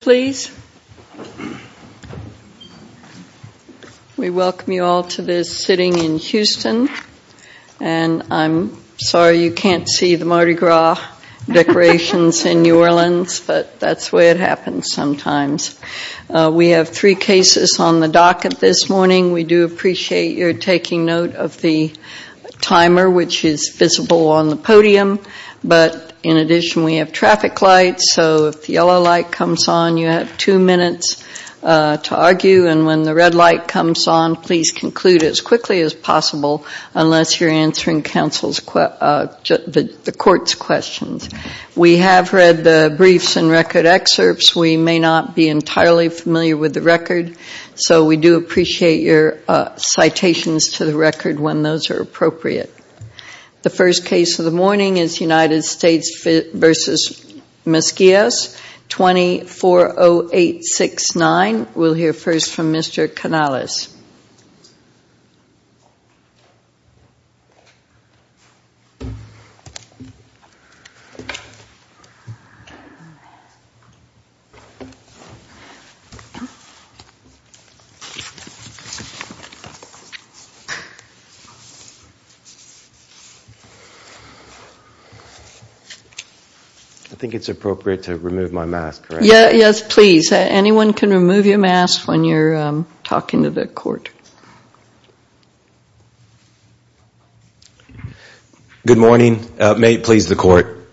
please. We welcome you all to this sitting in Houston. And I'm sorry you can't see the Mardi Gras decorations in New Orleans, but that's the way it happens sometimes. We have three cases on the docket this morning. We do appreciate your taking note of the timer which is visible on the podium, but in addition we have traffic lights, so if the yellow light comes on, you have two minutes to argue, and when the red light comes on, please conclude as quickly as possible unless you're answering the court's questions. We have read the briefs and record excerpts. We may not be entirely familiar with the record, so we do appreciate your citations to the record when those are appropriate. The first case of the morning is United States v. Mesquias, 240869. We'll hear first from Mr. Canales. I think it's appropriate to remove my mask, correct? Yes, please. Anyone can remove your mask when you're talking to the court. Good morning. May it please the court.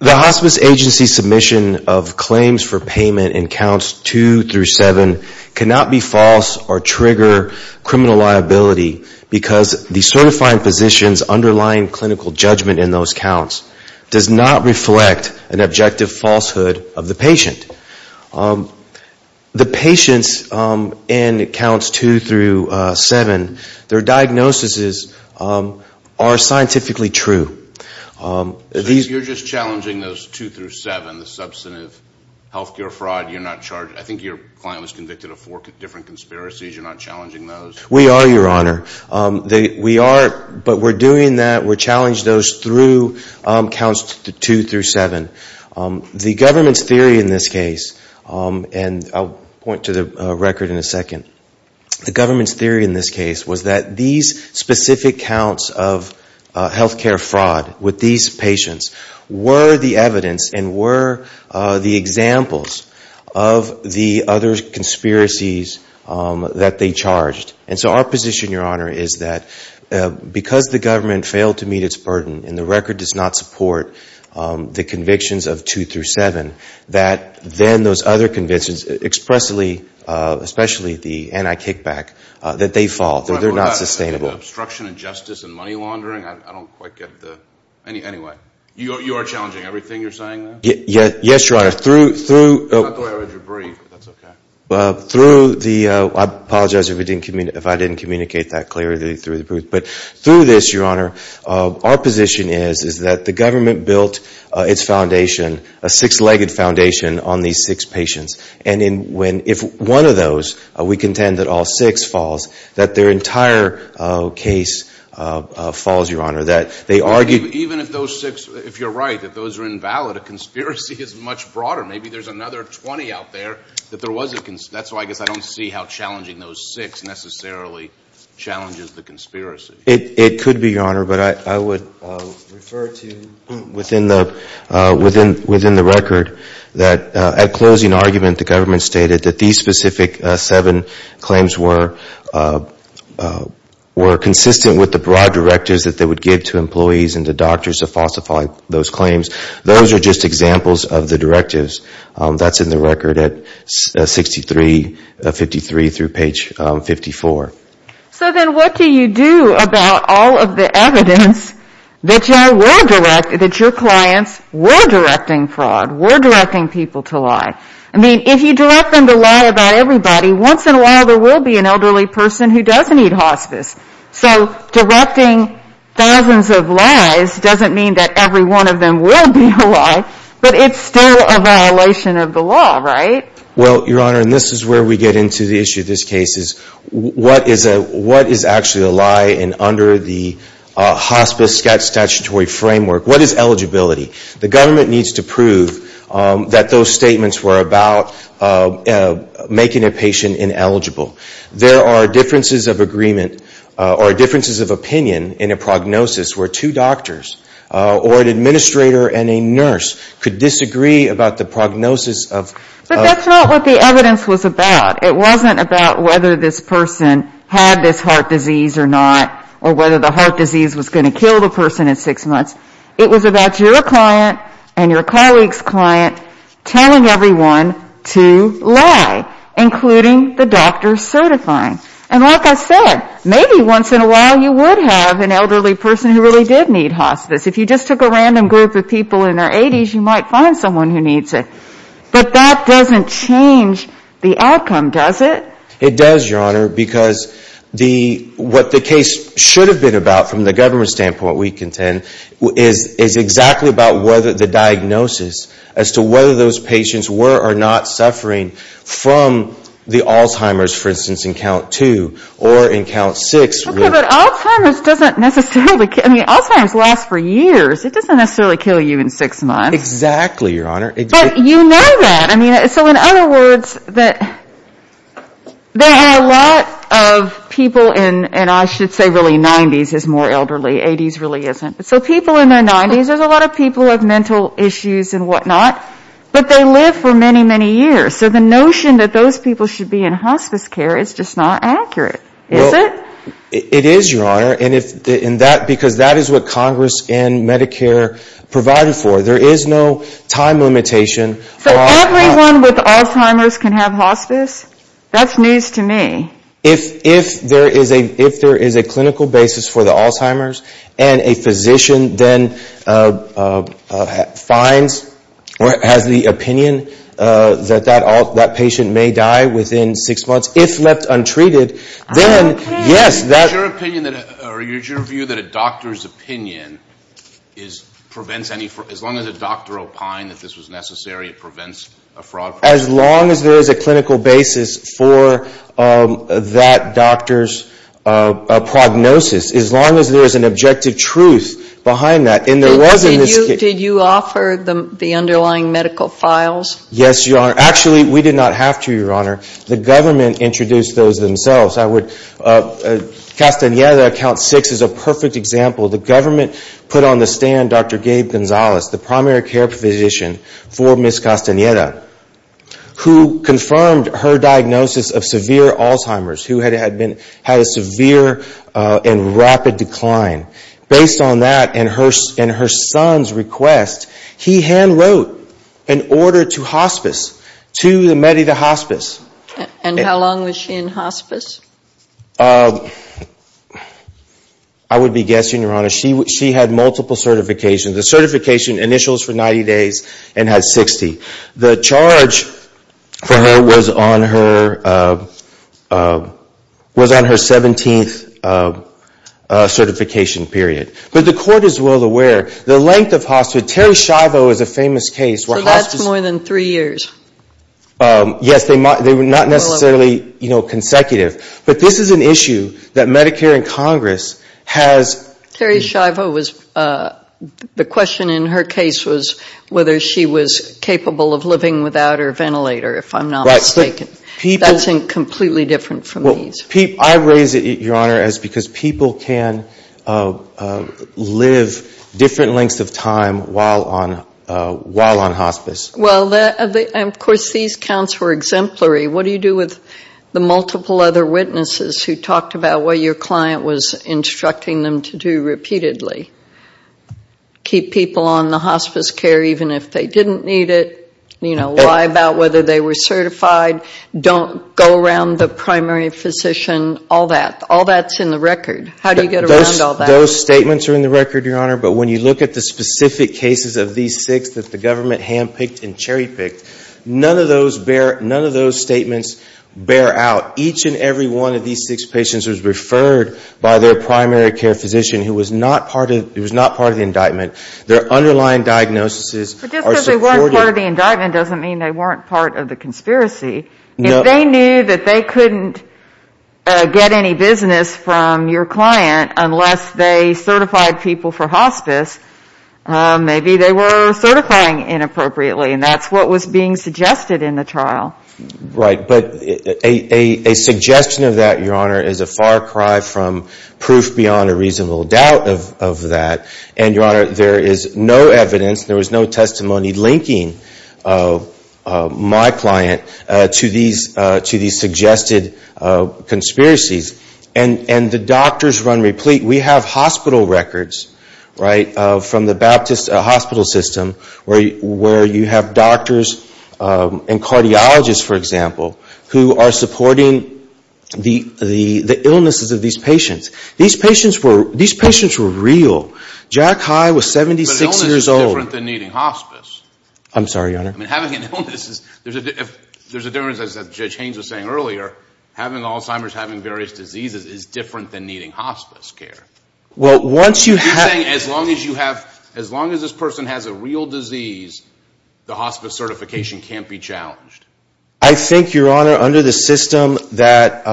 The Hospice Agency submission of claims for payment in counts 2 through 7 cannot be false or trigger criminal liability because the certifying physician's underlying clinical judgment in those counts does not reflect an objective falsehood of the patient. The patients in counts 2 through 7, their diagnoses are scientifically true. You're just challenging those 2 through 7, the substantive health care fraud. I think your client was convicted of four different conspiracies. You're not challenging those? We are, Your Honor. We are, but we're doing that, we're challenging those through counts 2 through 7. The government's theory in this case, and I'll point to the record in a second, the government's theory in this case was that these specific counts of health care fraud with these patients were the evidence and were the examples of the other conspiracies that they charged. And so our position, Your Honor, is that because the government failed to meet its burden and the record does not support the convictions of 2 through 7, that then those other convictions expressly, especially the anti-kickback, that they fall, that they're not sustainable. Obstruction and justice and Yes, Your Honor. I apologize if I didn't communicate that clearly. But through this, Your Honor, our position is that the government built its foundation, a six-legged foundation, on these six patients. And if one of those, we contend that all six falls, that their entire case falls, Your Honor, that they argued Even if those six, if you're right, that those are invalid, a conspiracy is much broader. Maybe there's another 20 out there that there was a, that's why I guess I don't see how challenging those six necessarily challenges the conspiracy. It could be, Your Honor, but I would refer to within the, within the record, that at closing argument, the government stated that these specific seven claims were, were consistent with the broad directives that they would give to employees and to doctors to falsify those claims. Those are just examples of the directives. That's in the record at 63, 53 through page 54. So then what do you do about all of the evidence that you were direct, that your clients were directing fraud, were directing people to lie? I mean, if you direct them to lie about everybody, once in a while there will be an elderly person who does need hospice. So directing thousands of lies doesn't mean that every one of them will be a lie, but it's still a violation of the law, right? Well, Your Honor, and this is where we get into the issue of this case, is what is a, what is actually a lie in, under the hospice statutory framework? What is eligibility? The government needs to prove that those statements were about making a patient ineligible. There are differences of agreement or differences of opinion in a prognosis where two doctors or an administrator and a nurse could disagree about the prognosis of But that's not what the evidence was about. It wasn't about whether this person had this heart disease or not, or whether the heart disease was going to kill the person in six your colleague's client telling everyone to lie, including the doctor certifying. And like I said, maybe once in a while you would have an elderly person who really did need hospice. If you just took a random group of people in their 80s, you might find someone who needs it. But that doesn't change the outcome, does it? It does, Your Honor, because the, what the case should have been about from the government's standpoint, what we contend, is exactly about whether the diagnosis as to whether those patients were or not suffering from the Alzheimer's, for instance, in count two or in count six Okay, but Alzheimer's doesn't necessarily, I mean, Alzheimer's lasts for years. It doesn't necessarily kill you in six months. Exactly, Your Honor. But you know that. I mean, so in other words, that there are a lot of people in, and I should say really 90s is more elderly, 80s really isn't. So people in their 90s, there's a lot of people who have mental issues and whatnot, but they live for many, many years. So the notion that those people should be in hospice care is just not accurate, is it? It is, Your Honor, and if, and that, because that is what Congress and Medicare provided for. There is no time limitation for all So everyone with Alzheimer's can have hospice? That's news to me. If there is a clinical basis for the Alzheimer's and a physician then finds or has the opinion that that patient may die within six months if left untreated, then yes, that Is your opinion, or is your view that a doctor's opinion is, prevents any, as long as a doctor opined that this was necessary, it prevents a fraud? As long as there is a clinical basis for that doctor's prognosis, as long as there is an objective truth behind that, and there was in this Did you offer the underlying medical files? Yes, Your Honor. Actually, we did not have to, Your Honor. The government introduced those themselves. I would, Castaneda, account six is a perfect example. The government put on the stand Dr. Gabe Gonzalez, the primary care physician for Ms. Castaneda, who confirmed her diagnosis of severe Alzheimer's, who had a severe and rapid decline. Based on that and her son's request, he hand wrote an order to hospice, to the Medida Hospice. And how long was she in hospice? I would be guessing, Your Honor, she had multiple certifications. The certification initials for 90 days and had 60. The charge for her was on her, was on her 17th certification period. But the court is well aware, the length of hospice, Terry Schiavo is a famous case where hospice So that's more than three years? Yes, they were not necessarily, you know, consecutive. But this is an issue that Medicare and Congress has Terry Schiavo was, the question in her case was whether she was capable of living without her ventilator, if I'm not mistaken. Right. That's completely different from these. I raise it, Your Honor, as because people can live different lengths of time while on hospice. Well, of course, these counts were exemplary. What do you do with the multiple other witnesses who talked about what your client was instructing them to do repeatedly? Keep people on the hospice care even if they didn't need it. You know, lie about whether they were certified. Don't go around the primary physician, all that. All that's in the record. How do you get around all that? Those statements are in the record, Your Honor. But when you look at the specific cases of these six that the government hand-picked and cherry-picked, none of those statements bear out. Each and every one of these six patients was referred by their primary care physician who was not part of the indictment. Their underlying diagnoses are supported. But just because they weren't part of the indictment doesn't mean they weren't part of the conspiracy. If they knew that they couldn't get any business from your client unless they certified people for hospice, maybe they were certifying inappropriately. And that's what was being suggested in the trial. Right. But a suggestion of that, Your Honor, is a far cry from proof beyond a reasonable doubt of that. And, Your Honor, there is no evidence, there was no testimony linking my client to these suggested conspiracies. And the doctors run replete. We have hospital records, right, from the Baptist hospital system where you have doctors and cardiologists, for example, who are supporting the illnesses of these patients. These patients were real. Jack High was 76 years old. But illness is different than needing hospice. I'm sorry, Your Honor. I mean, having an illness is, there's a difference, as Judge Haynes was saying earlier, having Alzheimer's, having various diseases is different than needing hospice care. Well, once you have... I'm saying as long as you have, as long as this person has a real disease, the hospice certification can't be challenged. I think, Your Honor, under the system that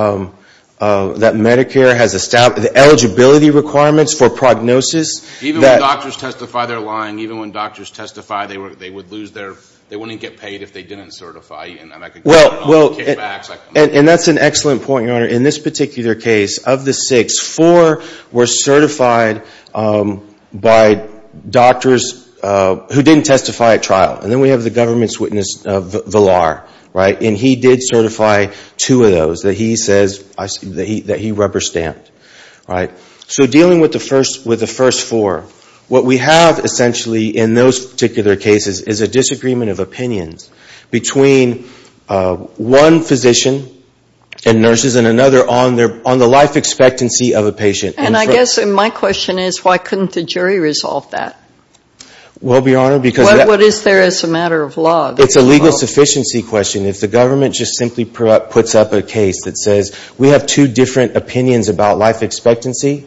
Medicare has established, the eligibility requirements for prognosis... Even when doctors testify they're lying, even when doctors testify they would lose their money, they wouldn't get paid if they didn't certify, and then I could get kickbacks. And that's an excellent point, Your Honor. In this particular case of the six, four were certified by doctors who didn't testify at trial. And then we have the government's witness of Villar, right, and he did certify two of those that he says, that he rubber stamped. So dealing with the first four, what we have essentially in those particular cases is a disagreement of opinions between one physician and nurses and another on the life expectancy of a patient. And I guess my question is, why couldn't the jury resolve that? Well, Your Honor, because... What is there as a matter of law? It's a legal sufficiency question. If the government just simply puts up a case that says we have two different opinions about life expectancy,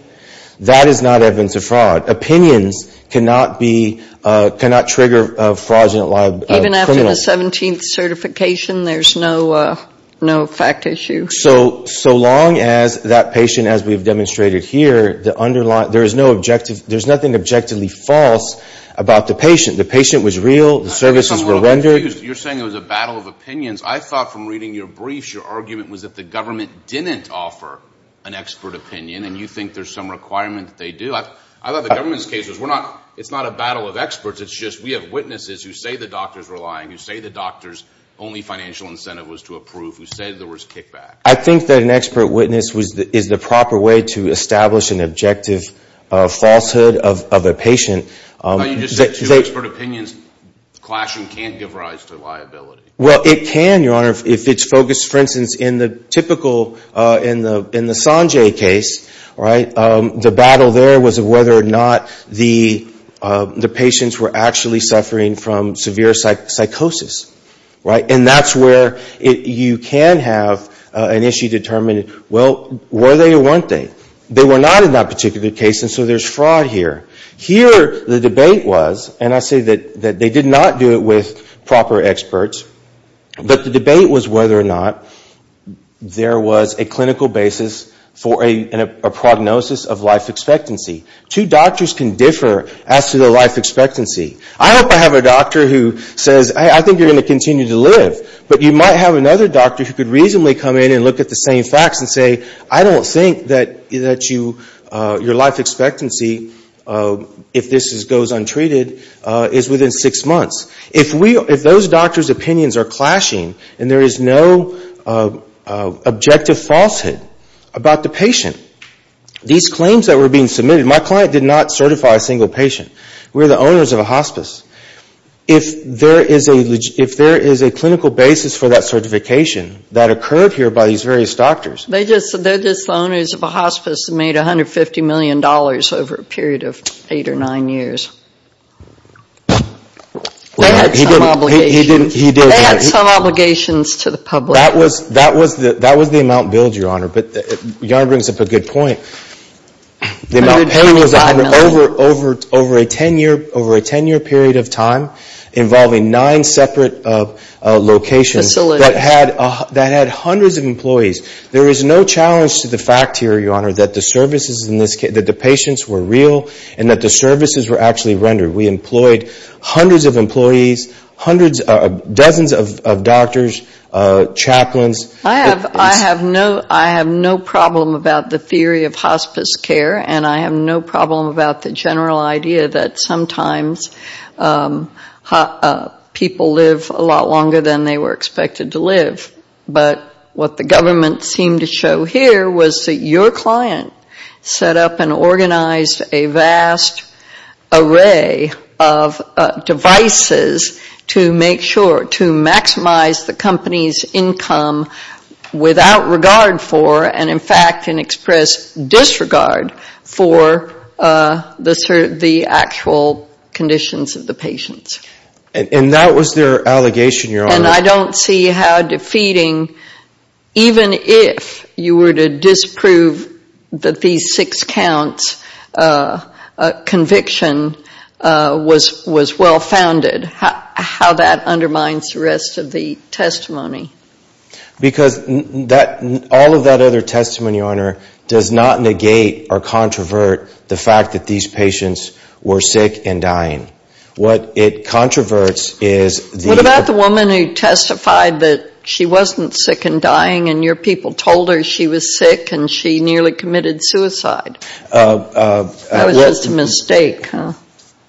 that is not evidence of fraud. Opinions cannot be, cannot trigger a fraudulent lie of a criminal. Even after the 17th certification, there's no fact issue? So long as that patient, as we've demonstrated here, the underlying, there is no objective, there's nothing objectively false about the patient. The patient was real, the services were rendered. I'm a little confused. You're saying it was a battle of opinions. I thought from reading your briefs, your argument was that the government didn't offer an expert opinion, and you think there's some requirement that they do. I thought the government's case was, it's not a battle of experts, it's just we have witnesses who say the doctors were lying, who say the doctor's only financial incentive was to approve, who say there was kickback. I think that an expert witness is the proper way to establish an objective falsehood of a patient. You just said two expert opinions clash and can't give rise to liability. Well, it can, Your Honor, if it's focused, for instance, in the typical, in the Sanjay case, right, the battle there was whether or not the patients were actually suffering from severe psychosis, right? And that's where you can have an issue determining, well, were they or weren't they? They were not in that particular case, and so there's the debate was, and I say that they did not do it with proper experts, but the debate was whether or not there was a clinical basis for a prognosis of life expectancy. Two doctors can differ as to their life expectancy. I hope I have a doctor who says, hey, I think you're going to continue to live, but you might have another doctor who could reasonably come in and look at the same facts and say, I don't think that you, your life expectancy, if this goes untreated, is within six months. If we, if those doctors' opinions are clashing and there is no objective falsehood about the patient, these claims that were being submitted, my client did not certify a single patient. We're the owners of a hospice. If there is a, if there is a clinical basis for that certification that occurred here by these various doctors. They just, they're just the owners of a hospice that made $150 million over a period of eight or nine years. They had some obligations to the public. That was, that was the, that was the amount billed, Your Honor, but Your Honor brings up a good point. The amount paid was over, over, over a ten year, over a ten year period of time involving nine separate locations that had, that had hundreds of employees. There is no challenge to the fact here, Your Honor, that the services in this case, that the patients were real and that the services were actually rendered. We employed hundreds of employees, hundreds, dozens of doctors, chaplains. I have, I have no, I have no problem about the theory of hospice care and I have no problem about the general idea that sometimes people live a lot longer than they were expected to live, but what the government seemed to show here was that your client set up and organized a vast array of devices to make sure, to maximize the company's income without regard for, and in fact can express disregard for the actual conditions of the patients. And I don't see how defeating, even if you were to disprove that these six counts, a conviction was, was well founded, how, how that undermines the rest of the testimony. Because that, all of that other testimony, Your Honor, does not negate or controvert the fact that these patients were sick and dying. What it controverts is the What about the woman who testified that she wasn't sick and dying and your people told her she was sick and she nearly committed suicide? That was just a mistake, huh?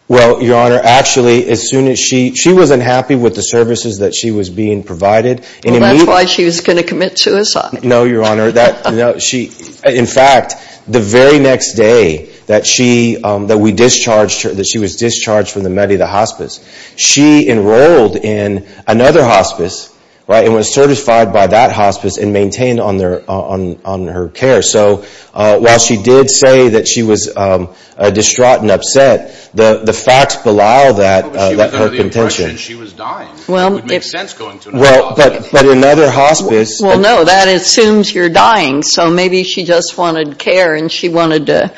Well, Your Honor, actually, as soon as she, she wasn't happy with the services that she was being provided and immediately Well, that's why she was going to commit suicide. No, Your Honor, that, no, she, in fact, the very next day that she, that we discharged her, that she was discharged from the Medi, the hospice, she enrolled in another hospice, right, and was certified by that hospice and maintained on their, on, on her care. So, while she did say that she was distraught and upset, the, the facts belied that, that her contention Well, it would make sense going to another hospice. Well, but, but another hospice Well, no, that assumes you're dying, so maybe she just wanted care and she wanted to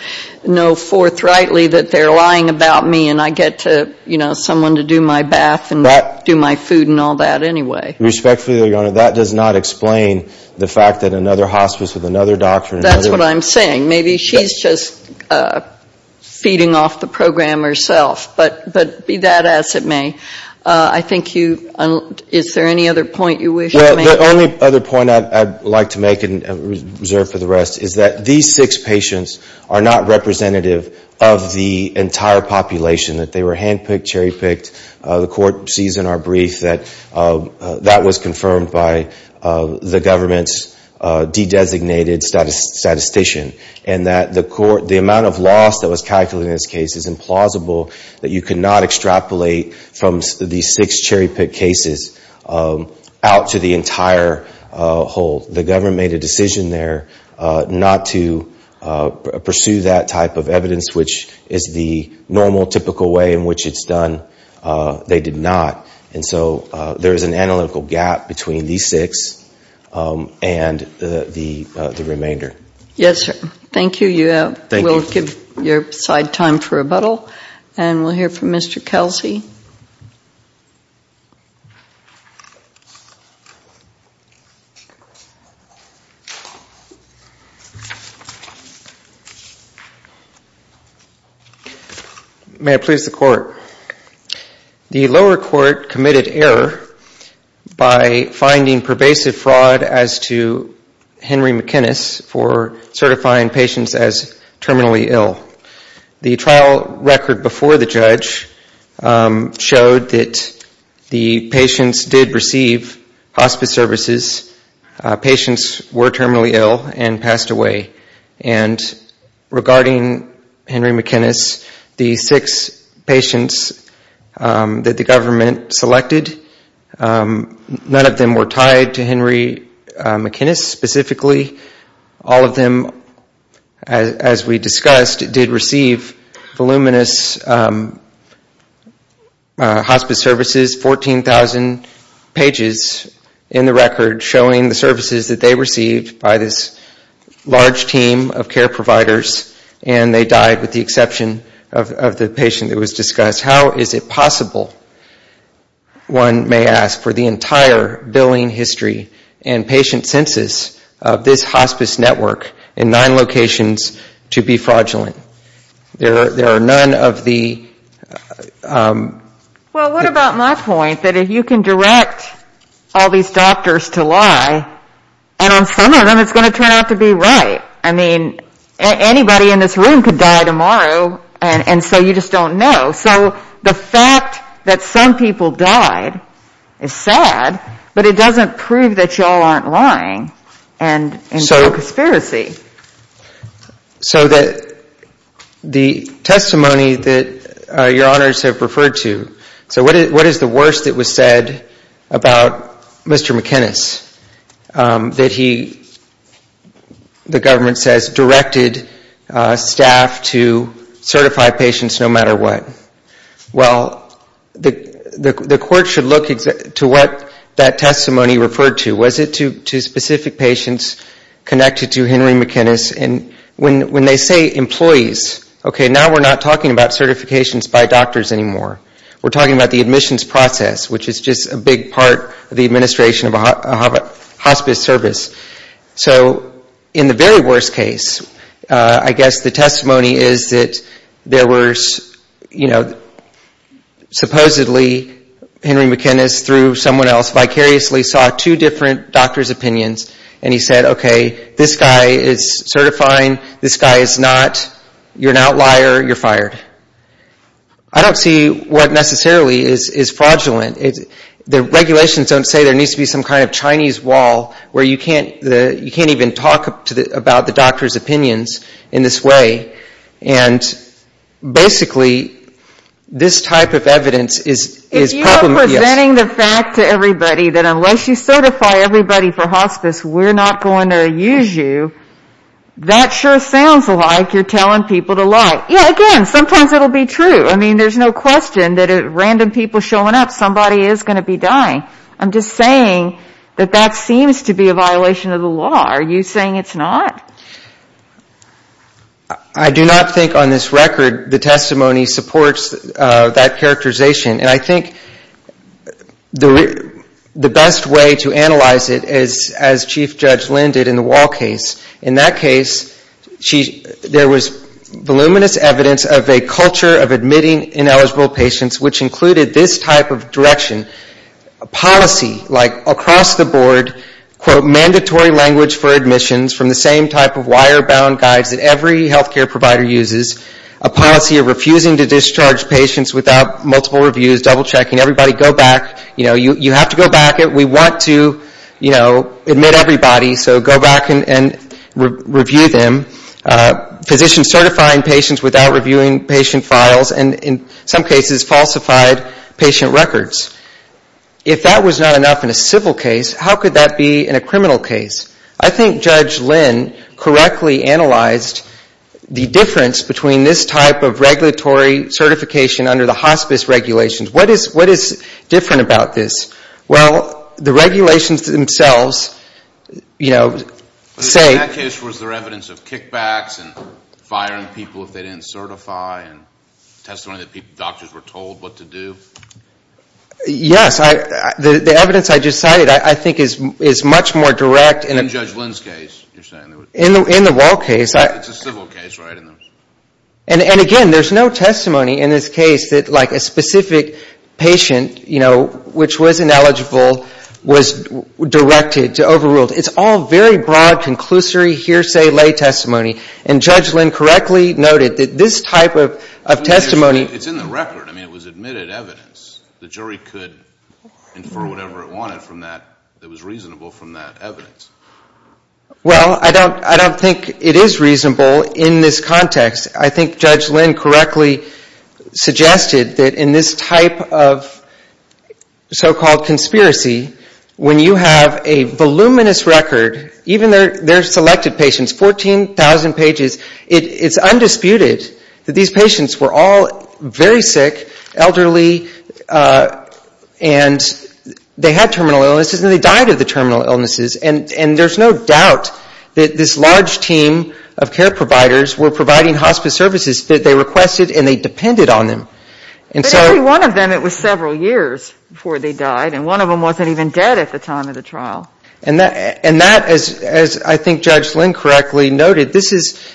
know forthrightly that they're lying about me and I get to, you know, someone to do my bath and do my food and all that anyway. Respectfully, Your Honor, that does not explain the fact that another hospice with another doctor That's what I'm saying. Maybe she's just feeding off the program herself, but, but be that as it may, I think you, is there any other point you wish to make? Well, the only other point I'd like to make and reserve for the rest is that these six patients are not representative of the entire population, that they were hand-picked, cherry-picked. The court sees in our brief that, that was confirmed by the government's de-designated statistician and that the court, the amount of loss that was calculated in this case is implausible, that you could not extrapolate from these six cherry-picked cases out to the entire whole. The government made a decision there not to pursue that type of evidence, which is the normal, typical way in which it's done. They did not. And so there is an analytical gap between these six and the remainder. Yes, sir. Thank you. We'll give your side time for rebuttal and we'll hear from Mr. Kelsey. May I please the court? The lower court committed error by finding pervasive fraud as to Henry McInnis for certifying patients as terminally ill. The trial record before the judge showed that the patients did receive hospice services. Patients were terminally ill and passed away. And regarding Henry McInnis, the six patients that the government selected, none of them were tied to Henry McInnis specifically. All of them, as we discussed, did receive voluminous hospice services, 14,000 pages in the record showing the services that they received by this large team of care providers and they died with the exception of the patient that was discussed. How is it possible, one may ask, for the entire billing history and there are none of the... Well, what about my point that if you can direct all these doctors to lie and on some of them it's going to turn out to be right. I mean, anybody in this room could die tomorrow and so you just don't know. So the fact that some people died is sad, but it doesn't prove that y'all aren't lying and it's not a conspiracy. So the testimony that your honors have referred to, so what is the worst that was said about Mr. McInnis that he, the government says, directed staff to certify patients no matter what? Well, the court should look to what that testimony referred to. Was it to specific patients connected to Henry McInnis? And when they say employees, okay, now we're not talking about certifications by doctors anymore. We're talking about the admissions process, which is just a big part of the administration of a hospice service. So in the very worst case, I guess the testimony is that there was, you know, supposedly Henry McInnis through someone else vicariously saw two different doctor's opinions and he said, okay, this guy is certifying, this guy is not, you're an outlier, you're fired. I don't see what necessarily is fraudulent. The regulations don't say there needs to be some kind of Chinese wall where you can't even talk about the doctor's way, and basically this type of evidence is problematic. If you are presenting the fact to everybody that unless you certify everybody for hospice, we're not going to use you, that sure sounds like you're telling people to lie. Yeah, again, sometimes it'll be true. I mean, there's no question that random people showing up, somebody is going to be dying. I'm just saying that that seems to be a violation of the law. Are you saying it's not? I do not think on this record the testimony supports that characterization, and I think the best way to analyze it is as Chief Judge Lin did in the Wall case. In that case, there was voluminous evidence of a culture of admitting ineligible patients which included this type of direction. A policy like across the board, quote, mandatory language for admissions from the same type of wirebound guides that every health care provider uses. A policy of refusing to discharge patients without multiple reviews, double checking, everybody go back, you know, you have to go back. We want to, you know, admit everybody, so go back and review them. Physicians certifying patients without reviewing patient files, and in some cases falsified patient records. If that was not enough in a civil case, how could that be in a criminal case? I think Judge Lin correctly analyzed the difference between this type of regulatory certification under the hospice regulations. What is different about this? Well, the regulations themselves, you know, say... In that case, was there evidence of kickbacks and firing people if they didn't certify and testimony that doctors were told what to do? Yes, the evidence I just In Judge Lin's case, you're saying? In the Wall case. It's a civil case, right? And again, there's no testimony in this case that like a specific patient, you know, which was ineligible was directed to overrule. It's all very broad, conclusory, hearsay, lay testimony, and Judge Lin correctly noted that this type of testimony... It's in the record. I mean, it was admitted evidence. The jury could infer whatever it wanted from that that was reasonable from that evidence. Well, I don't think it is reasonable in this context. I think Judge Lin correctly suggested that in this type of so-called conspiracy, when you have a voluminous record, even their selected patients, 14,000 pages, it's undisputed that these patients were all very sick, elderly, and they had terminal illnesses and they died of the terminal illnesses, and there's no doubt that this large team of care providers were providing hospice services that they requested and they depended on them. But every one of them, it was several years before they died, and one of them wasn't even dead at the time of the trial. And that, as I think Judge Lin correctly noted, this is...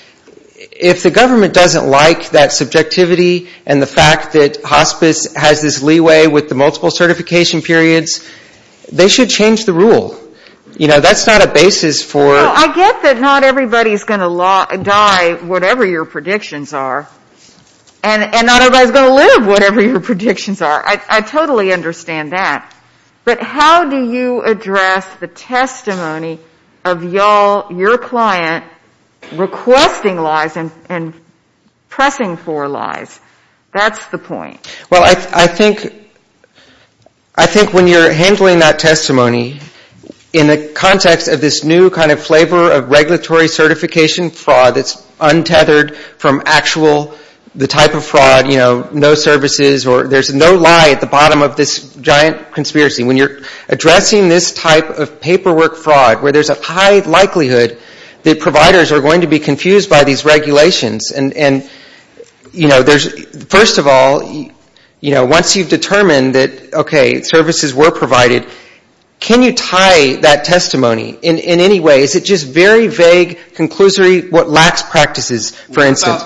If the government doesn't like that subjectivity and the fact that hospice has this leeway with the multiple certification periods, they should change the rule. You know, that's not a basis for... Well, I get that not everybody's going to die, whatever your predictions are, and not everybody's going to live, whatever your predictions are. I totally understand that. But how do you address the testimony of y'all, your client, requesting lies and that's the point. Well, I think when you're handling that testimony in the context of this new kind of flavor of regulatory certification fraud that's untethered from actual, the type of fraud, you know, no services or there's no lie at the bottom of this giant conspiracy. When you're addressing this type of paperwork fraud where there's a high likelihood that providers are going to be First of all, you know, once you've determined that, okay, services were provided, can you tie that testimony in any way? Is it just very vague, conclusory, what lacks practices, for instance?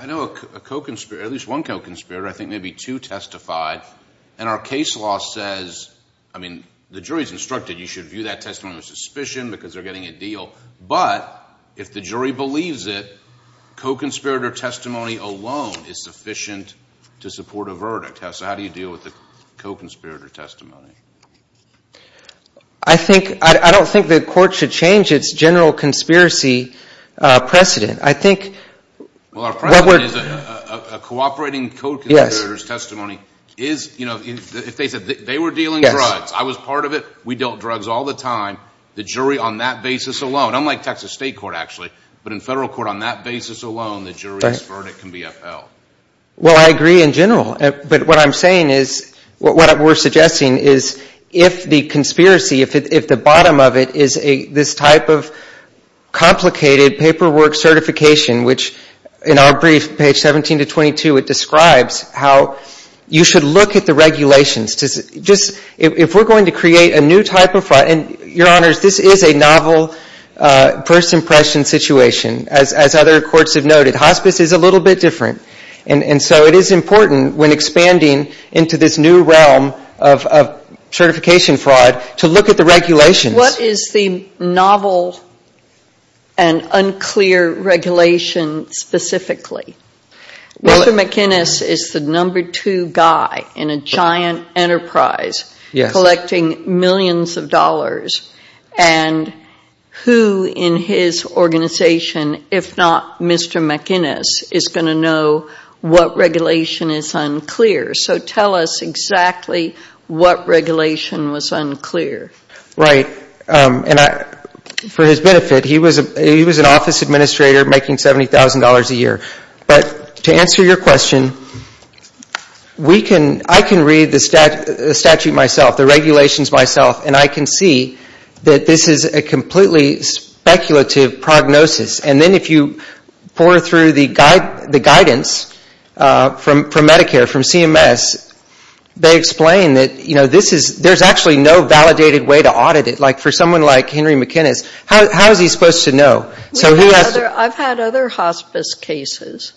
I know a co-conspirator, at least one co-conspirator, I think maybe two testified, and our case law says, I mean, the jury's instructed you should view that testimony with suspicion because they're getting a deal. But if the jury believes it, co-conspirator testimony alone is sufficient to support a verdict. So how do you deal with the co-conspirator testimony? I think, I don't think the court should change its general conspiracy precedent. I think Well, our precedent is a cooperating co-conspirator's testimony is, you know, if they said they were dealing drugs, I was part of it, we dealt drugs all the time, the jury on that basis alone, unlike Texas State Court, actually, but in federal court on that alone, the jury's verdict can be upheld. Well, I agree in general. But what I'm saying is, what we're suggesting is, if the conspiracy, if the bottom of it is this type of complicated paperwork certification, which in our brief, page 17 to 22, it describes how you should look at the regulations. Just, if we're going to create a new type of, and Your Honors, this is a novel first impression situation, as other courts have noted, hospice is a little bit different. And so it is important when expanding into this new realm of certification fraud to look at the regulations. What is the novel and unclear regulation specifically? Mr. McInnis is the number two guy in a giant enterprise collecting millions of dollars. And who in his organization, if not Mr. McInnis, is going to know what regulation is unclear? So tell us exactly what regulation was unclear. Right. And for his benefit, he was an office administrator making $70,000 a year. But to answer your question, I can read the statute myself, the regulations myself, and I can see that this is a completely speculative prognosis. And then if you pour through the guidance from Medicare, from CMS, they explain that, you know, this is, there's actually no validated way to audit it. Like, for someone like Henry McInnis, how is he supposed to know? So who has to? I've had other hospice cases.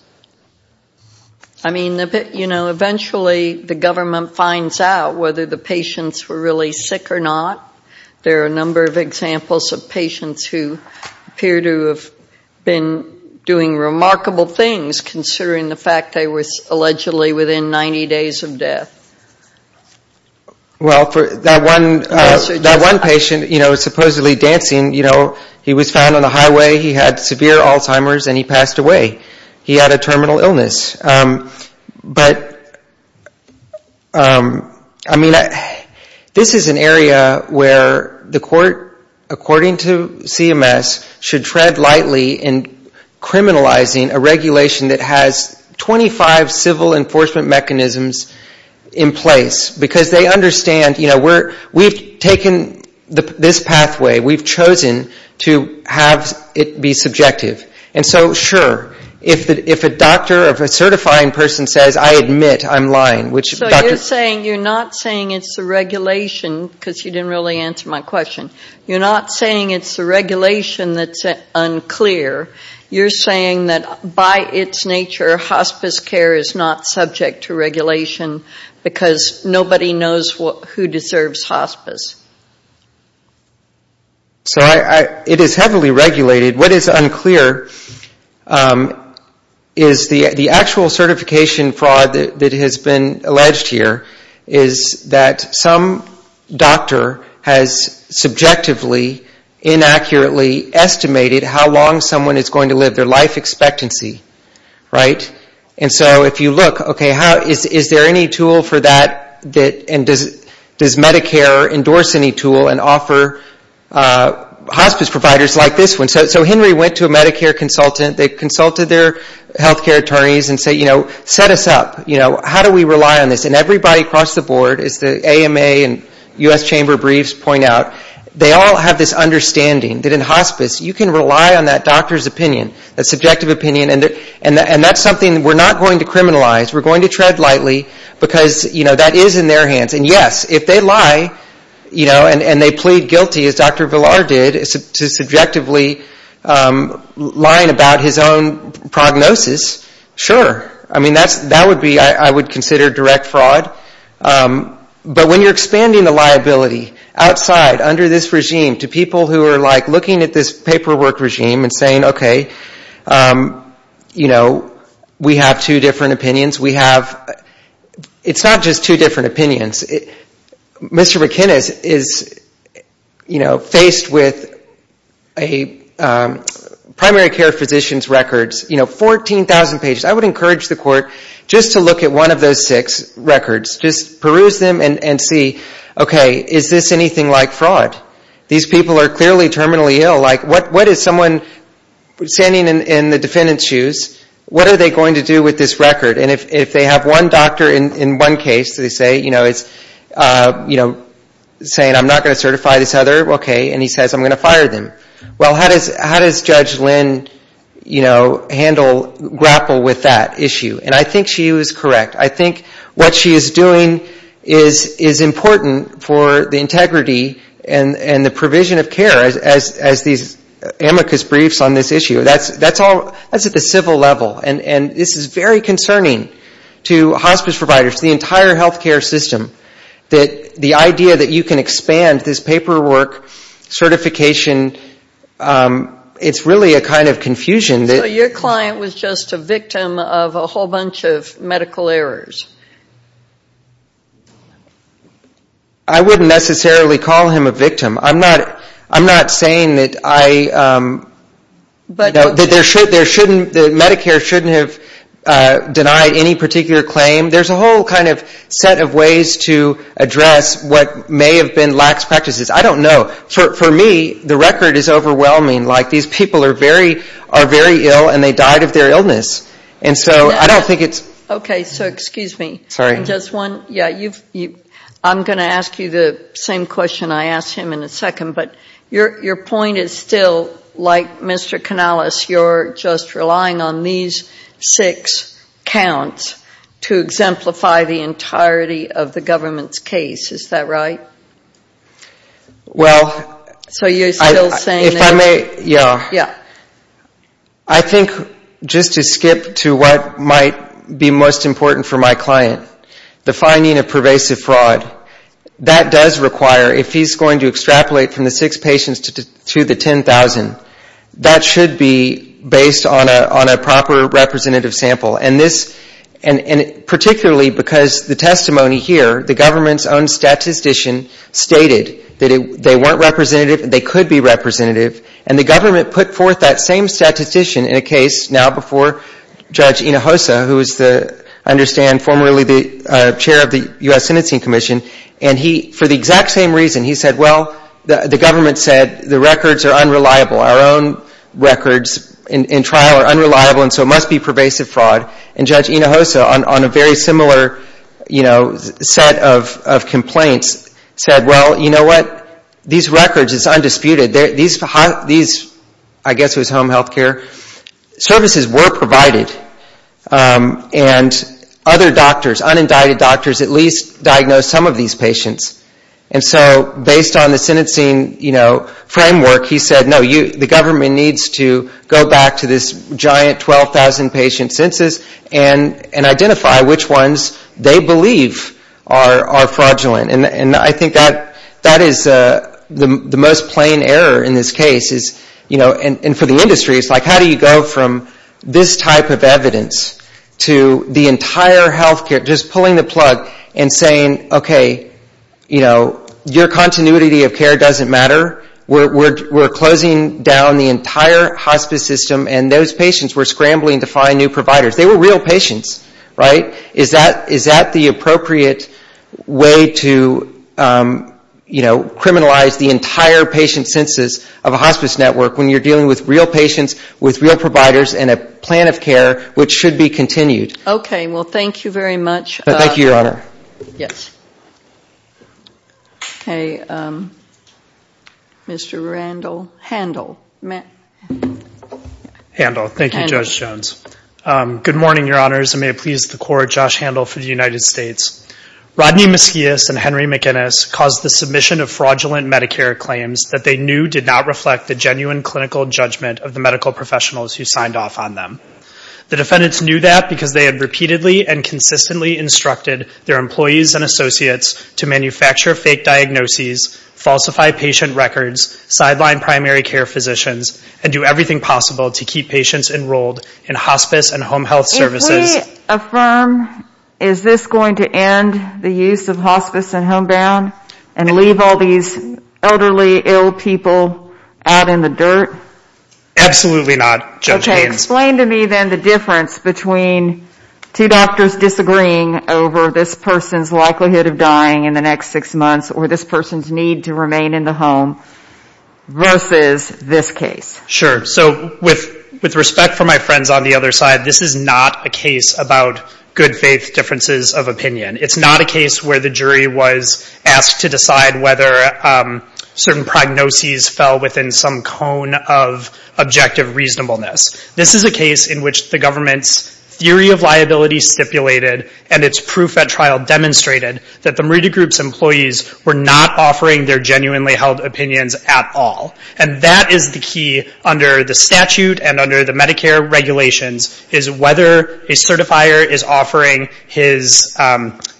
I mean, you know, eventually the government finds out whether the patients were really sick or not. There are a number of examples of patients who appear to have been doing remarkable things considering the fact they were allegedly within 90 days of death. Well, for that one patient, you know, supposedly dancing, you know, he was found on the highway, he had severe Alzheimer's, and he passed away. He had a terminal illness. But I mean, this is an area where the court, according to CMS, should tread lightly in criminalizing a regulation that has 25 civil enforcement mechanisms in place. Because they understand, you know, we've taken this pathway, we've chosen to have it be subjective. And so, sure, if a doctor, if a certifying person says, I admit, I'm lying. So you're saying, you're not saying it's the regulation, because you didn't really answer my question. You're not saying it's the regulation that's unclear. You're saying that by its nature, hospice care is not subject to regulation because nobody knows who deserves hospice. So it is heavily regulated. What is unclear is the actual certification fraud that has been alleged here is that some doctor has subjectively, inaccurately estimated how long someone is going to live, their life expectancy, right? And so if you look, okay, is there any tool for that? And does Medicare endorse any tool and offer hospice providers like this one? So Henry went to a Medicare consultant. They consulted their health care attorneys and said, you know, set us up. How do we rely on this? And everybody across the board, as the AMA and U.S. Chamber of Briefs point out, they all have this understanding that in hospice, you can rely on that doctor's opinion, that subjective opinion. And that's something we're not going to criminalize. We're going to tread lightly, because, you know, that is in their hands. And yes, if they lie, you know, and they plead guilty as Dr. Villar did, subjectively lying about his own prognosis, sure. I mean, that would be, I would consider direct fraud. But when you're expanding the liability outside, under this regime, to people who are, like, looking at this paperwork regime and saying, okay, you know, we have two different opinions. We have, it's not just two different opinions. Mr. McInnes is, you know, faced with a primary care physician's records, you know, 14,000 pages. I would encourage the court just to look at one of those six records. Just peruse them and see, okay, is this anything like fraud? These people are clearly terminally ill. Like, what is someone standing in the defendant's shoes, what are they going to do with this record? And if they have one doctor in one case, they say, you know, it's, you know, saying, I'm not going to certify this other. Okay. And he says, I'm going to fire them. Well, how does Judge Lynn, you know, handle, grapple with that issue? And I think she was correct. I think what she is doing is important for the integrity and the provision of care, as these amicus briefs on this issue. That's all, that's at the civil level. And this is very concerning to hospice providers, to the entire health care system, that the idea that you can expand this paperwork certification, it's really a kind of confusion. So your client was just a victim of a whole bunch of medical errors? I wouldn't necessarily call him a victim. I'm not saying that I, that there shouldn't, that Medicare shouldn't have denied any particular claim. There's a whole kind of set of ways to address what may have been lax practices. I don't know. For me, the record is overwhelming. Like, these people are very ill and they died of their illness. And so I don't think it's... Okay, so excuse me. Sorry. Just one, yeah, you've, I'm going to ask you the same question I asked him in a second, but your point is still, like Mr. Canales, you're just relying on these six counts to exemplify the entirety of the government's case. Is that right? Well... So you're still saying that... Yeah. I think, just to skip to what might be most important for my client, the finding of pervasive fraud, that does require, if he's going to extrapolate from the six patients to the 10,000, that should be based on a proper representative sample. And this, and particularly because the testimony here, the government's own statistician stated that they weren't going to be representative. And the government put forth that same statistician in a case now before Judge Hinojosa, who is the, I understand, formerly the chair of the U.S. Sentencing Commission. And he, for the exact same reason, he said, well, the government said the records are unreliable. Our own records in trial are unreliable, and so it must be pervasive fraud. And Judge Hinojosa, on a very similar set of complaints, said, well, you know what? These records, it's undisputed. These, I guess it was home health care, services were provided, and other doctors, unindicted doctors, at least diagnosed some of these patients. And so, based on the sentencing framework, he said, no, the government needs to go back to this giant 12,000 patient census and identify which ones they believe are fraudulent. And I think that is the most plain error in this case is, you know, and for the industry, it's like, how do you go from this type of evidence to the entire health care, just pulling the plug and saying, okay, you know, your continuity of care doesn't matter. We're closing down the entire hospice system, and those patients were scrambling to find new providers. They were real patients, right? Is that the appropriate way to, you know, criminalize the entire patient census of a hospice network when you're dealing with real patients, with real providers, and a plan of care which should be continued? Okay, well, thank you very much. Thank you, Your Honor. Yes. Okay, Mr. Randall, Handel. Handel, thank you, Judge Jones. Good morning, Your Honors, and may it please the Court, Josh Handel for the United States. Rodney Mesquias and Henry McInnis caused the submission of fraudulent Medicare claims that they knew did not reflect the genuine clinical judgment of the medical professionals who signed off on them. The defendants knew that because they had repeatedly and consistently instructed their employees and associates to manufacture fake diagnoses, falsify patient records, sideline primary care physicians, and do everything possible to keep patients enrolled in hospice and home health services. If we affirm, is this going to end the use of hospice and homebound and leave all these elderly, ill people out in the dirt? Absolutely not, Judge Haynes. Okay, explain to me then the difference between two doctors disagreeing over this person's likelihood of dying in the next six months or this person's need to remain in the home versus this case. Sure. So with respect for my friends on the other side, this is not a case about good faith differences of opinion. It's not a case where the jury was asked to decide whether certain prognoses fell within some cone of objective reasonableness. This is a case in which the government's theory of liability stipulated and its proof at trial demonstrated that the Morita Group's employees were not offering their genuinely held opinions at all. And that is the key under the statute and under the Medicare regulations, is whether a certifier is offering his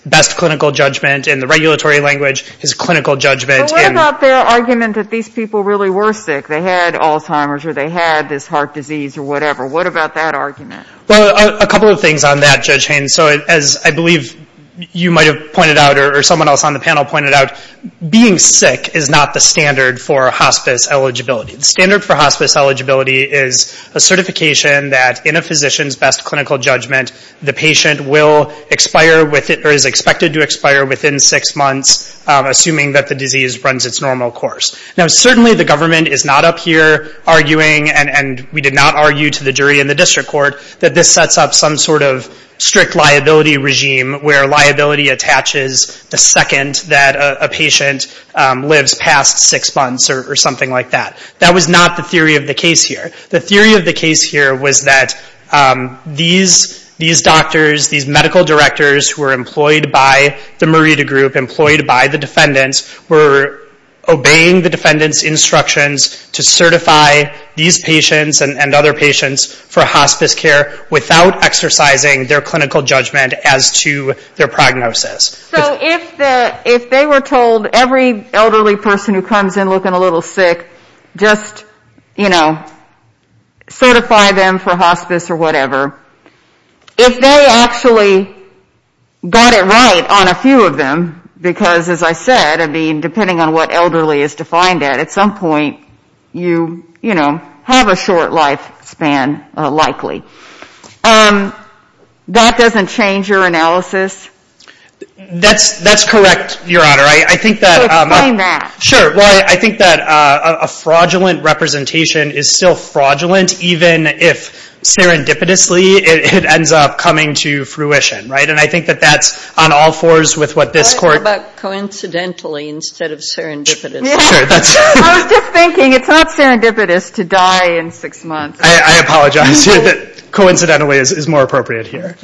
best clinical judgment in the regulatory language, his clinical judgment. But what about their argument that these people really were sick? They had Alzheimer's or they had this heart disease or whatever. What about that argument? Well, a couple of things on that, so as I believe you might have pointed out or someone else on the panel pointed out, being sick is not the standard for hospice eligibility. The standard for hospice eligibility is a certification that in a physician's best clinical judgment, the patient will expire or is expected to expire within six months, assuming that the disease runs its normal course. Now, certainly the government is not up here arguing, and we did not argue to the jury in the district court, that this sets up some sort of strict liability regime where liability attaches the second that a patient lives past six months or something like that. That was not the theory of the case here. The theory of the case here was that these doctors, these medical directors who were employed by the Morita Group, employed by the defendants, were obeying the defendant's for hospice care without exercising their clinical judgment as to their prognosis. So if they were told every elderly person who comes in looking a little sick, just, you know, certify them for hospice or whatever, if they actually got it right on a few of them, because as I said, I mean, depending on what elderly is defined at, at some point, you, you know, have a short lifespan, likely. That doesn't change your analysis? That's, that's correct, Your Honor. I think that... So explain that. Sure. Well, I think that a fraudulent representation is still fraudulent, even if serendipitously it ends up coming to fruition, right? And I think that that's on all fours with what this court... What about coincidentally instead of serendipitously? I was just thinking it's not serendipitous to die in six months. I apologize. Coincidentally is more appropriate here.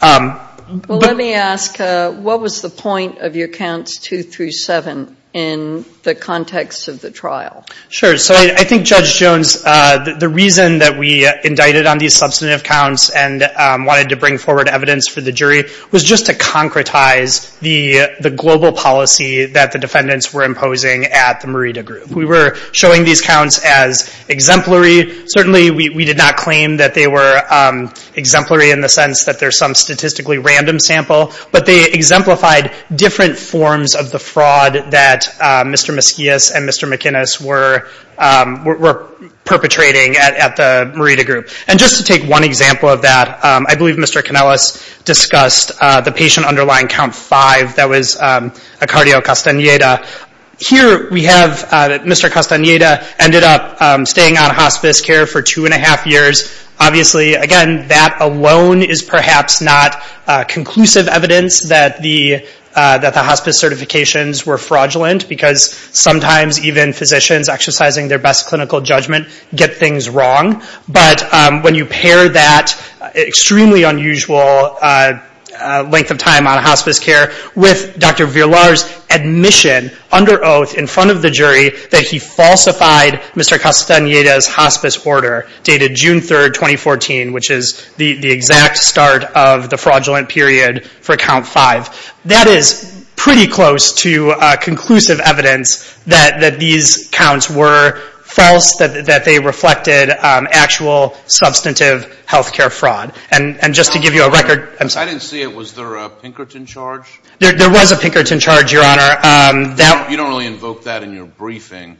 Well, let me ask, what was the point of your counts two through seven in the context of the trial? Sure. So I think Judge Jones, the reason that we indicted on these substantive counts and wanted to bring forward evidence for the jury was just to concretize the, the global policy that the defendants were imposing at the Morita Group. We were showing these counts as exemplary. Certainly we, we did not claim that they were exemplary in the sense that there's some statistically random sample, but they exemplified different forms of the fraud that Mr. Mesquias and Mr. McInnis were, were perpetrating at, at the Morita Group. And just to take one example of that, I believe Mr. Canellas discussed the patient underlying count five. That was a cardio Castaneda. Here we have Mr. Castaneda ended up staying on hospice care for two and a half years. Obviously, again, that alone is perhaps not conclusive evidence that the, that the hospice certifications were fraudulent because sometimes even physicians exercising their best clinical judgment get things wrong. But when you pair that extremely unusual length of time on hospice care with Dr. Villar's admission under oath in front of the jury that he falsified Mr. Castaneda's hospice order dated June 3rd, 2014, which is the exact start of the fraudulent period for count that they reflected actual substantive healthcare fraud. And just to give you a record... I didn't see it. Was there a Pinkerton charge? There was a Pinkerton charge, Your Honor. You don't really invoke that in your briefing.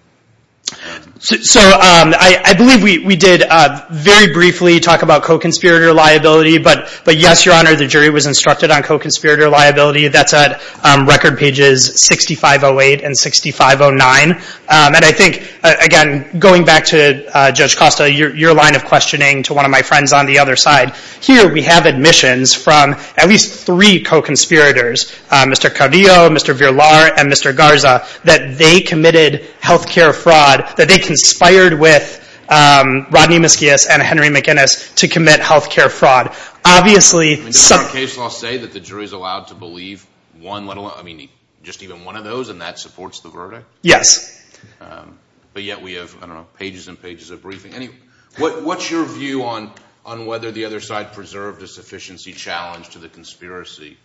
So I believe we did very briefly talk about co-conspirator liability, but yes, Your Honor, the jury was instructed on co-conspirator liability. That's at record pages 6508 and 6509. And I think, again, going back to Judge Costa, your line of questioning to one of my friends on the other side, here we have admissions from at least three co-conspirators, Mr. Cardillo, Mr. Villar, and Mr. Garza, that they committed healthcare fraud, that they conspired with Rodney Mesquius and Henry McInnes to commit healthcare fraud. Obviously... Does the case law say that the jury is allowed to believe one, let alone, I mean, just even one of those, and that supports the verdict? Yes. But yet we have, I don't know, pages and pages of briefing. What's your view on whether the other side preserved a sufficiency challenge to the conspiracy?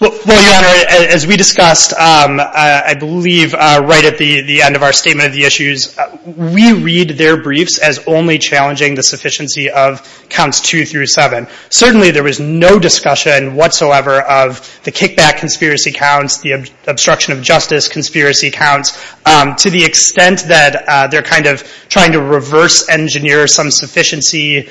Well, Your Honor, as we discussed, I believe right at the end of our statement of the issues, we read their briefs as only challenging the sufficiency of counts two through seven. Certainly, there was no discussion whatsoever of the kickback conspiracy counts, the obstruction of justice conspiracy counts, to the extent that they're kind of trying to reverse engineer some sufficiency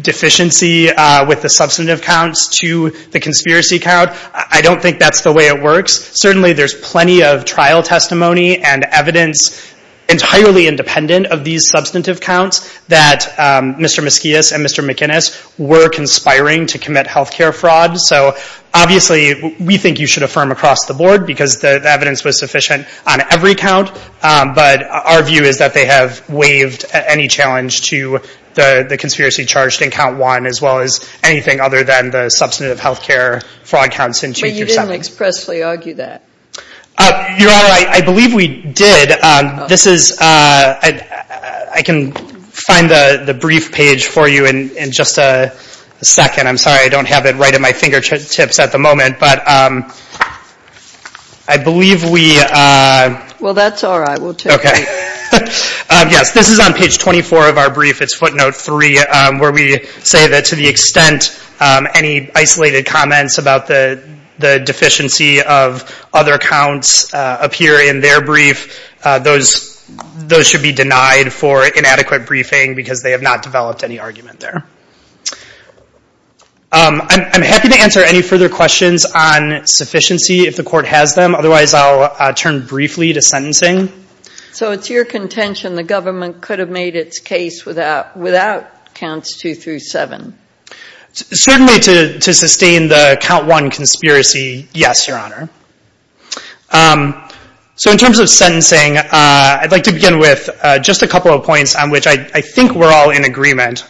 deficiency with the substantive counts to the conspiracy count. I don't think that's the way it works. Certainly, there's plenty of trial testimony and evidence entirely independent of these substantive counts that Mr. Mesquius and Mr. McInnes were conspiring to commit healthcare fraud. So obviously, we think you should affirm across the board because the evidence was sufficient on every count. But our view is that they have waived any challenge to the conspiracy charged in count one, as well as anything other than the substantive healthcare fraud counts in two through seven. But you didn't expressly argue that. Your Honor, I believe we did. This is... I can find the brief page for you in a second. I'm sorry. I don't have it right at my fingertips at the moment. But I believe we... Well, that's all right. We'll take it. Okay. Yes. This is on page 24 of our brief. It's footnote three, where we say that to the extent any isolated comments about the deficiency of other counts appear in their brief, those should be denied for inadequate briefing because they have not developed any argument there. Okay. I'm happy to answer any further questions on sufficiency if the court has them. Otherwise, I'll turn briefly to sentencing. So it's your contention the government could have made its case without counts two through seven? Certainly to sustain the count one conspiracy, yes, Your Honor. So in terms of sentencing, I'd like to begin with just a couple of points on which I think we're all in agreement.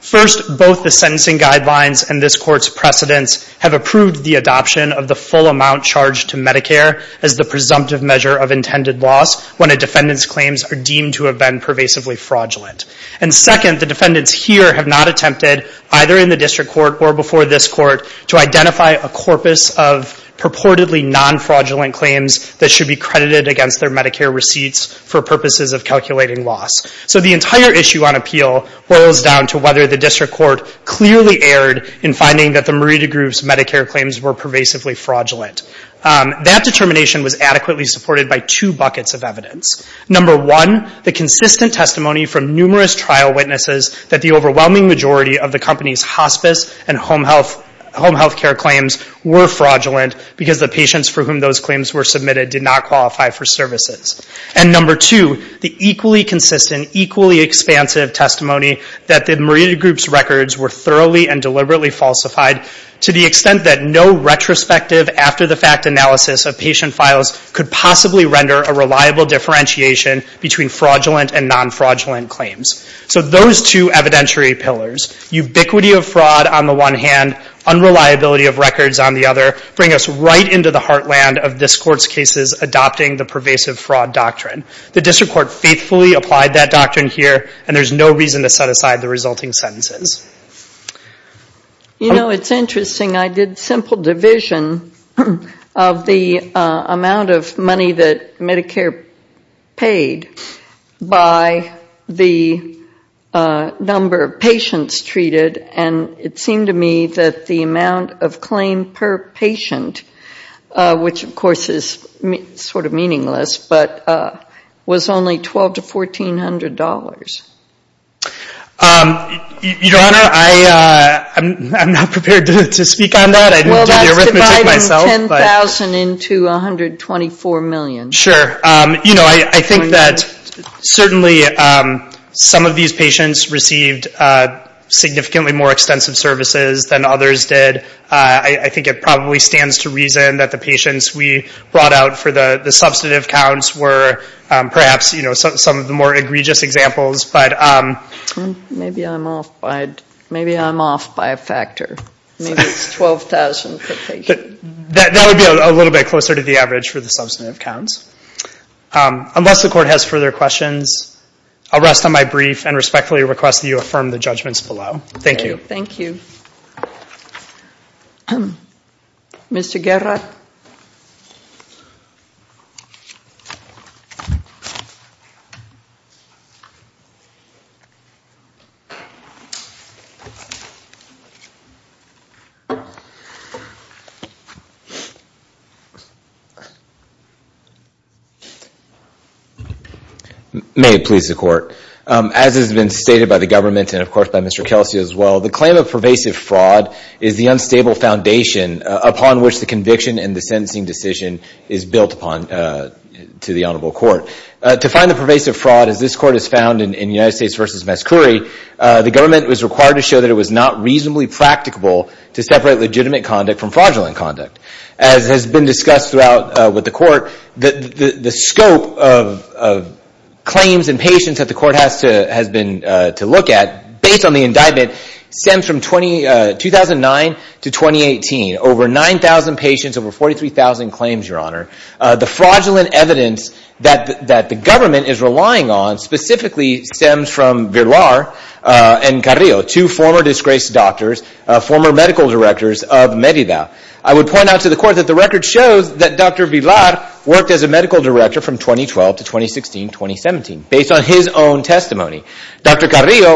First, both the sentencing guidelines and this court's precedents have approved the adoption of the full amount charged to Medicare as the presumptive measure of intended loss when a defendant's claims are deemed to have been pervasively fraudulent. And second, the defendants here have not attempted, either in the district court or before this court, to identify a corpus of purportedly non-fraudulent claims that should be credited against their appeal boils down to whether the district court clearly erred in finding that the Merida Group's Medicare claims were pervasively fraudulent. That determination was adequately supported by two buckets of evidence. Number one, the consistent testimony from numerous trial witnesses that the overwhelming majority of the company's hospice and home health care claims were fraudulent because the patients for whom those claims were submitted did not qualify for services. And number two, the equally consistent, equally expansive testimony that the Merida Group's records were thoroughly and deliberately falsified to the extent that no retrospective after-the-fact analysis of patient files could possibly render a reliable differentiation between fraudulent and non-fraudulent claims. So those two evidentiary pillars, ubiquity of fraud on the one hand, unreliability of records on the other, bring us right into the heartland of this court's cases adopting the pervasive fraud doctrine. The district court faithfully applied that doctrine here, and there's no reason to set aside the resulting sentences. You know, it's interesting. I did simple division of the amount of money that Medicare paid by the number of patients treated, and it seemed to me that the amount of claim per patient, which of course is sort of meaningless, but was only $1,200 to $1,400. Your Honor, I'm not prepared to speak on that. I didn't do the arithmetic myself. Well, that's dividing $10,000 into $124 million. Sure. You know, I think that certainly some of these patients received significantly more that the patients we brought out for the substantive counts were perhaps some of the more egregious examples. Maybe I'm off by a factor. Maybe it's $12,000 per patient. That would be a little bit closer to the average for the substantive counts. Unless the court has further questions, I'll rest on my brief and respectfully request that you affirm the judgments below. Thank you. Thank you. Mr. Guerra. May it please the court. As has been stated by the government and of course by Mr. Kelsey as well, the claim of pervasive fraud is the unstable foundation upon which the conviction and the sentencing decision is built upon to the honorable court. To find the pervasive fraud, as this court has found in United States v. Mescouri, the government was required to show that it was not reasonably practicable to separate legitimate conduct from fraudulent conduct. As has been discussed throughout with the court, the scope of claims and patients that the court has been to look at, based on the indictment, stems from 2009 to 2018. Over 9,000 patients, over 43,000 claims, Your Honor. The fraudulent evidence that the government is relying on specifically stems from Villar and Carrillo, two former disgraced doctors, former medical directors of Merida. I would point out to the court that the record shows that Dr. Villar worked as a Dr. Carrillo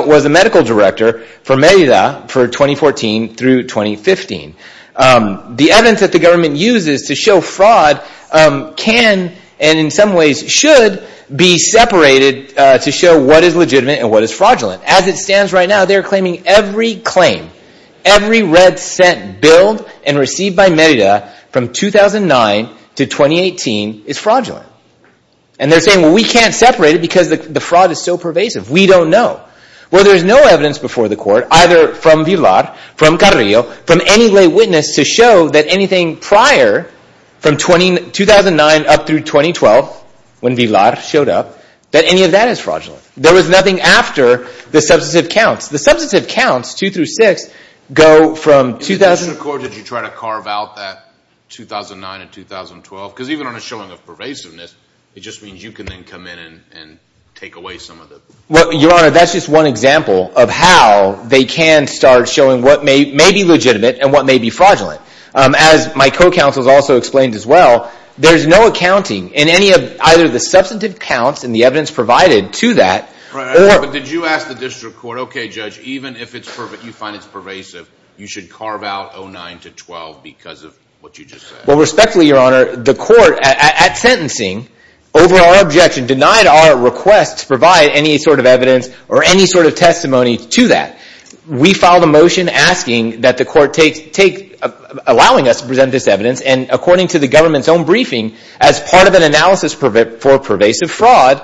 was a medical director for Merida for 2014 through 2015. The evidence that the government uses to show fraud can and in some ways should be separated to show what is legitimate and what is fraudulent. As it stands right now, they're claiming every claim, every red cent billed and received by Merida from 2009 to 2018 is fraudulent. And they're saying, we can't separate it because the fraud is so pervasive. We don't know. Well, there's no evidence before the court, either from Villar, from Carrillo, from any lay witness to show that anything prior from 2009 up through 2012, when Villar showed up, that any of that is fraudulent. There was nothing after the substantive counts. The substantive counts, two through six, go from 2000. In this record, did you try to carve out that 2009 and 2012? Because even on a pervasiveness, it just means you can then come in and take away some of it. Well, Your Honor, that's just one example of how they can start showing what may be legitimate and what may be fraudulent. As my co-counsel has also explained as well, there's no accounting in any of either the substantive counts and the evidence provided to that. But did you ask the district court, okay, judge, even if you find it's pervasive, you should carve out 2009 to 2012 because of what you just said? Well, respectfully, Your Honor, the court at sentencing, over our objection, denied our request to provide any sort of evidence or any sort of testimony to that. We filed a motion asking that the court take, allowing us to present this evidence and according to the government's own briefing, as part of an analysis for pervasive fraud,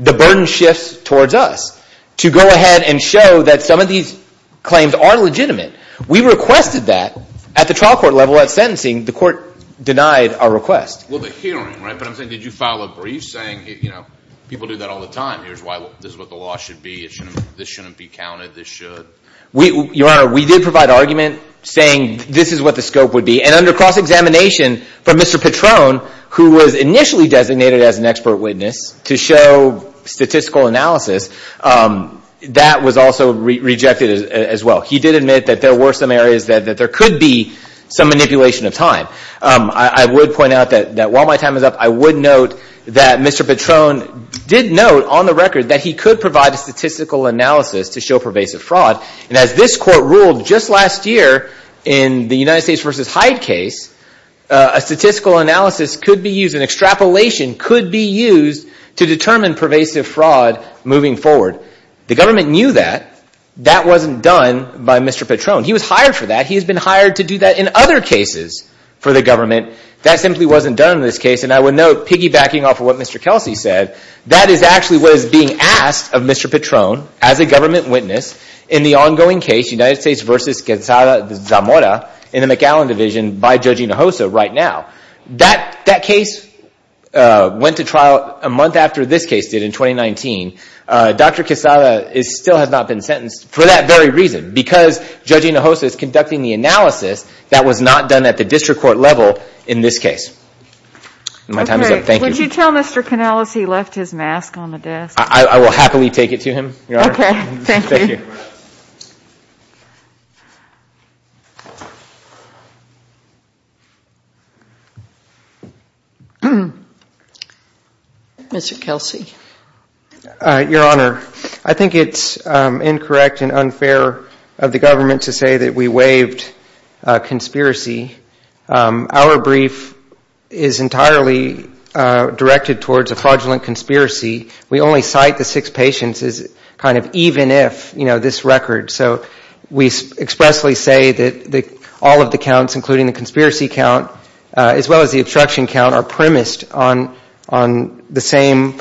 the burden shifts towards us to go ahead and show that some of these claims are legitimate. We requested that at the trial court level at sentencing. The court denied our request. Well, the hearing, right? But I'm saying, did you file a brief saying, you know, people do that all the time. Here's why this is what the law should be. This shouldn't be counted. This should. Your Honor, we did provide argument saying this is what the scope would be. And under cross examination from Mr. Patron, who was initially designated as an expert witness to show statistical analysis, that was also rejected as well. He did admit that there were some areas that there could be some manipulation of time. I would point out that while my time is up, I would note that Mr. Patron did note on the record that he could provide a statistical analysis to show pervasive fraud. And as this court ruled just last year in the United States v. Hyde case, a statistical analysis could be used, an extrapolation could be used to determine pervasive fraud moving forward. The government knew that. That wasn't done by Mr. Patron. He was hired for that. He has been hired to do that in other cases for the government. That simply wasn't done in this case. And I would note, piggybacking off of what Mr. Kelsey said, that is actually what is being asked of Mr. Patron as a government witness in the ongoing case, United States v. Gonzaga Zamora in the McAllen Division by Judge Hinojosa right now. That case went to trial a month after this case did in 2019. Dr. Quesada still has not been sentenced for that very reason, because Judge Hinojosa is conducting the analysis that was not done at the district court level in this case. My time is up. Thank you. Would you tell Mr. Canales he left his mask on the desk? I will happily take it to him, Your Honor. Okay. Thank you. Mr. Kelsey. Your Honor, I think it is incorrect and unfair of the government to say that we waived a conspiracy. Our brief is entirely directed towards a fraudulent conspiracy. We only cite the six patients as kind of even if, you know, this record. So we expressly say that all of the conspiracy count as well as the obstruction count are premised on the same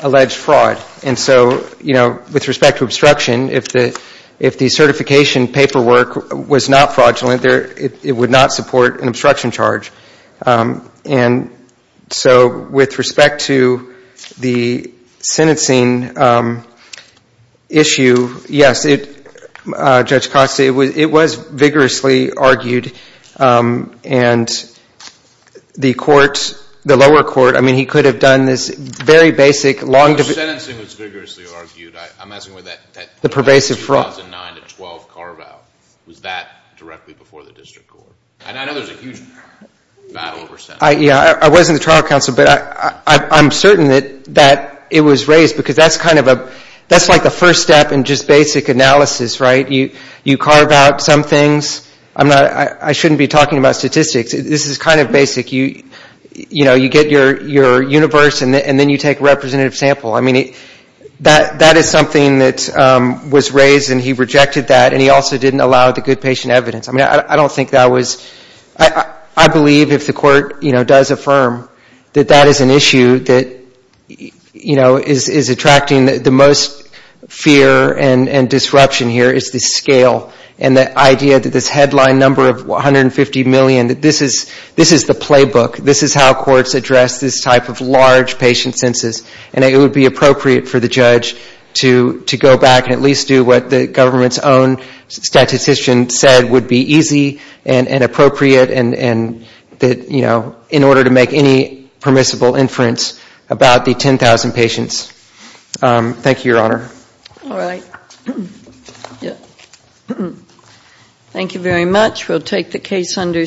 alleged fraud. And so, you know, with respect to obstruction, if the certification paperwork was not fraudulent, it would not support an obstruction charge. And so with respect to the sentencing issue, yes, it, Judge Costa, it was vigorously argued. And the court, the lower court, I mean, he could have done this very basic, long- The sentencing was vigorously argued. I'm asking whether that The pervasive fraud. 2009 to 12 carve out. Was that directly before the district court? And I know there's a huge battle over sentencing. I wasn't the trial counsel, but I'm certain that it was raised because that's kind of a, that's like the first step in just basic analysis, right? You carve out some things. I'm not, I shouldn't be talking about statistics. This is kind of basic. You know, you get your universe and then you take a representative sample. I mean, that is something that was raised and he rejected that and he also didn't allow the good patient evidence. I mean, I don't think that was, I believe if the court, you know, does affirm that that is an issue that, you know, is attracting the most fear and disruption here is the scale and the idea that this headline number of 150 million, that this is the playbook. This is how courts address this type of large patient census. And it would be appropriate for the judge to go back and at least do what the government's own statistician said would be easy and appropriate and that, you know, in order to make any permissible inference about the 10,000 patients. Thank you, Your Honor. All right. Thank you very much. We'll take the case under submission.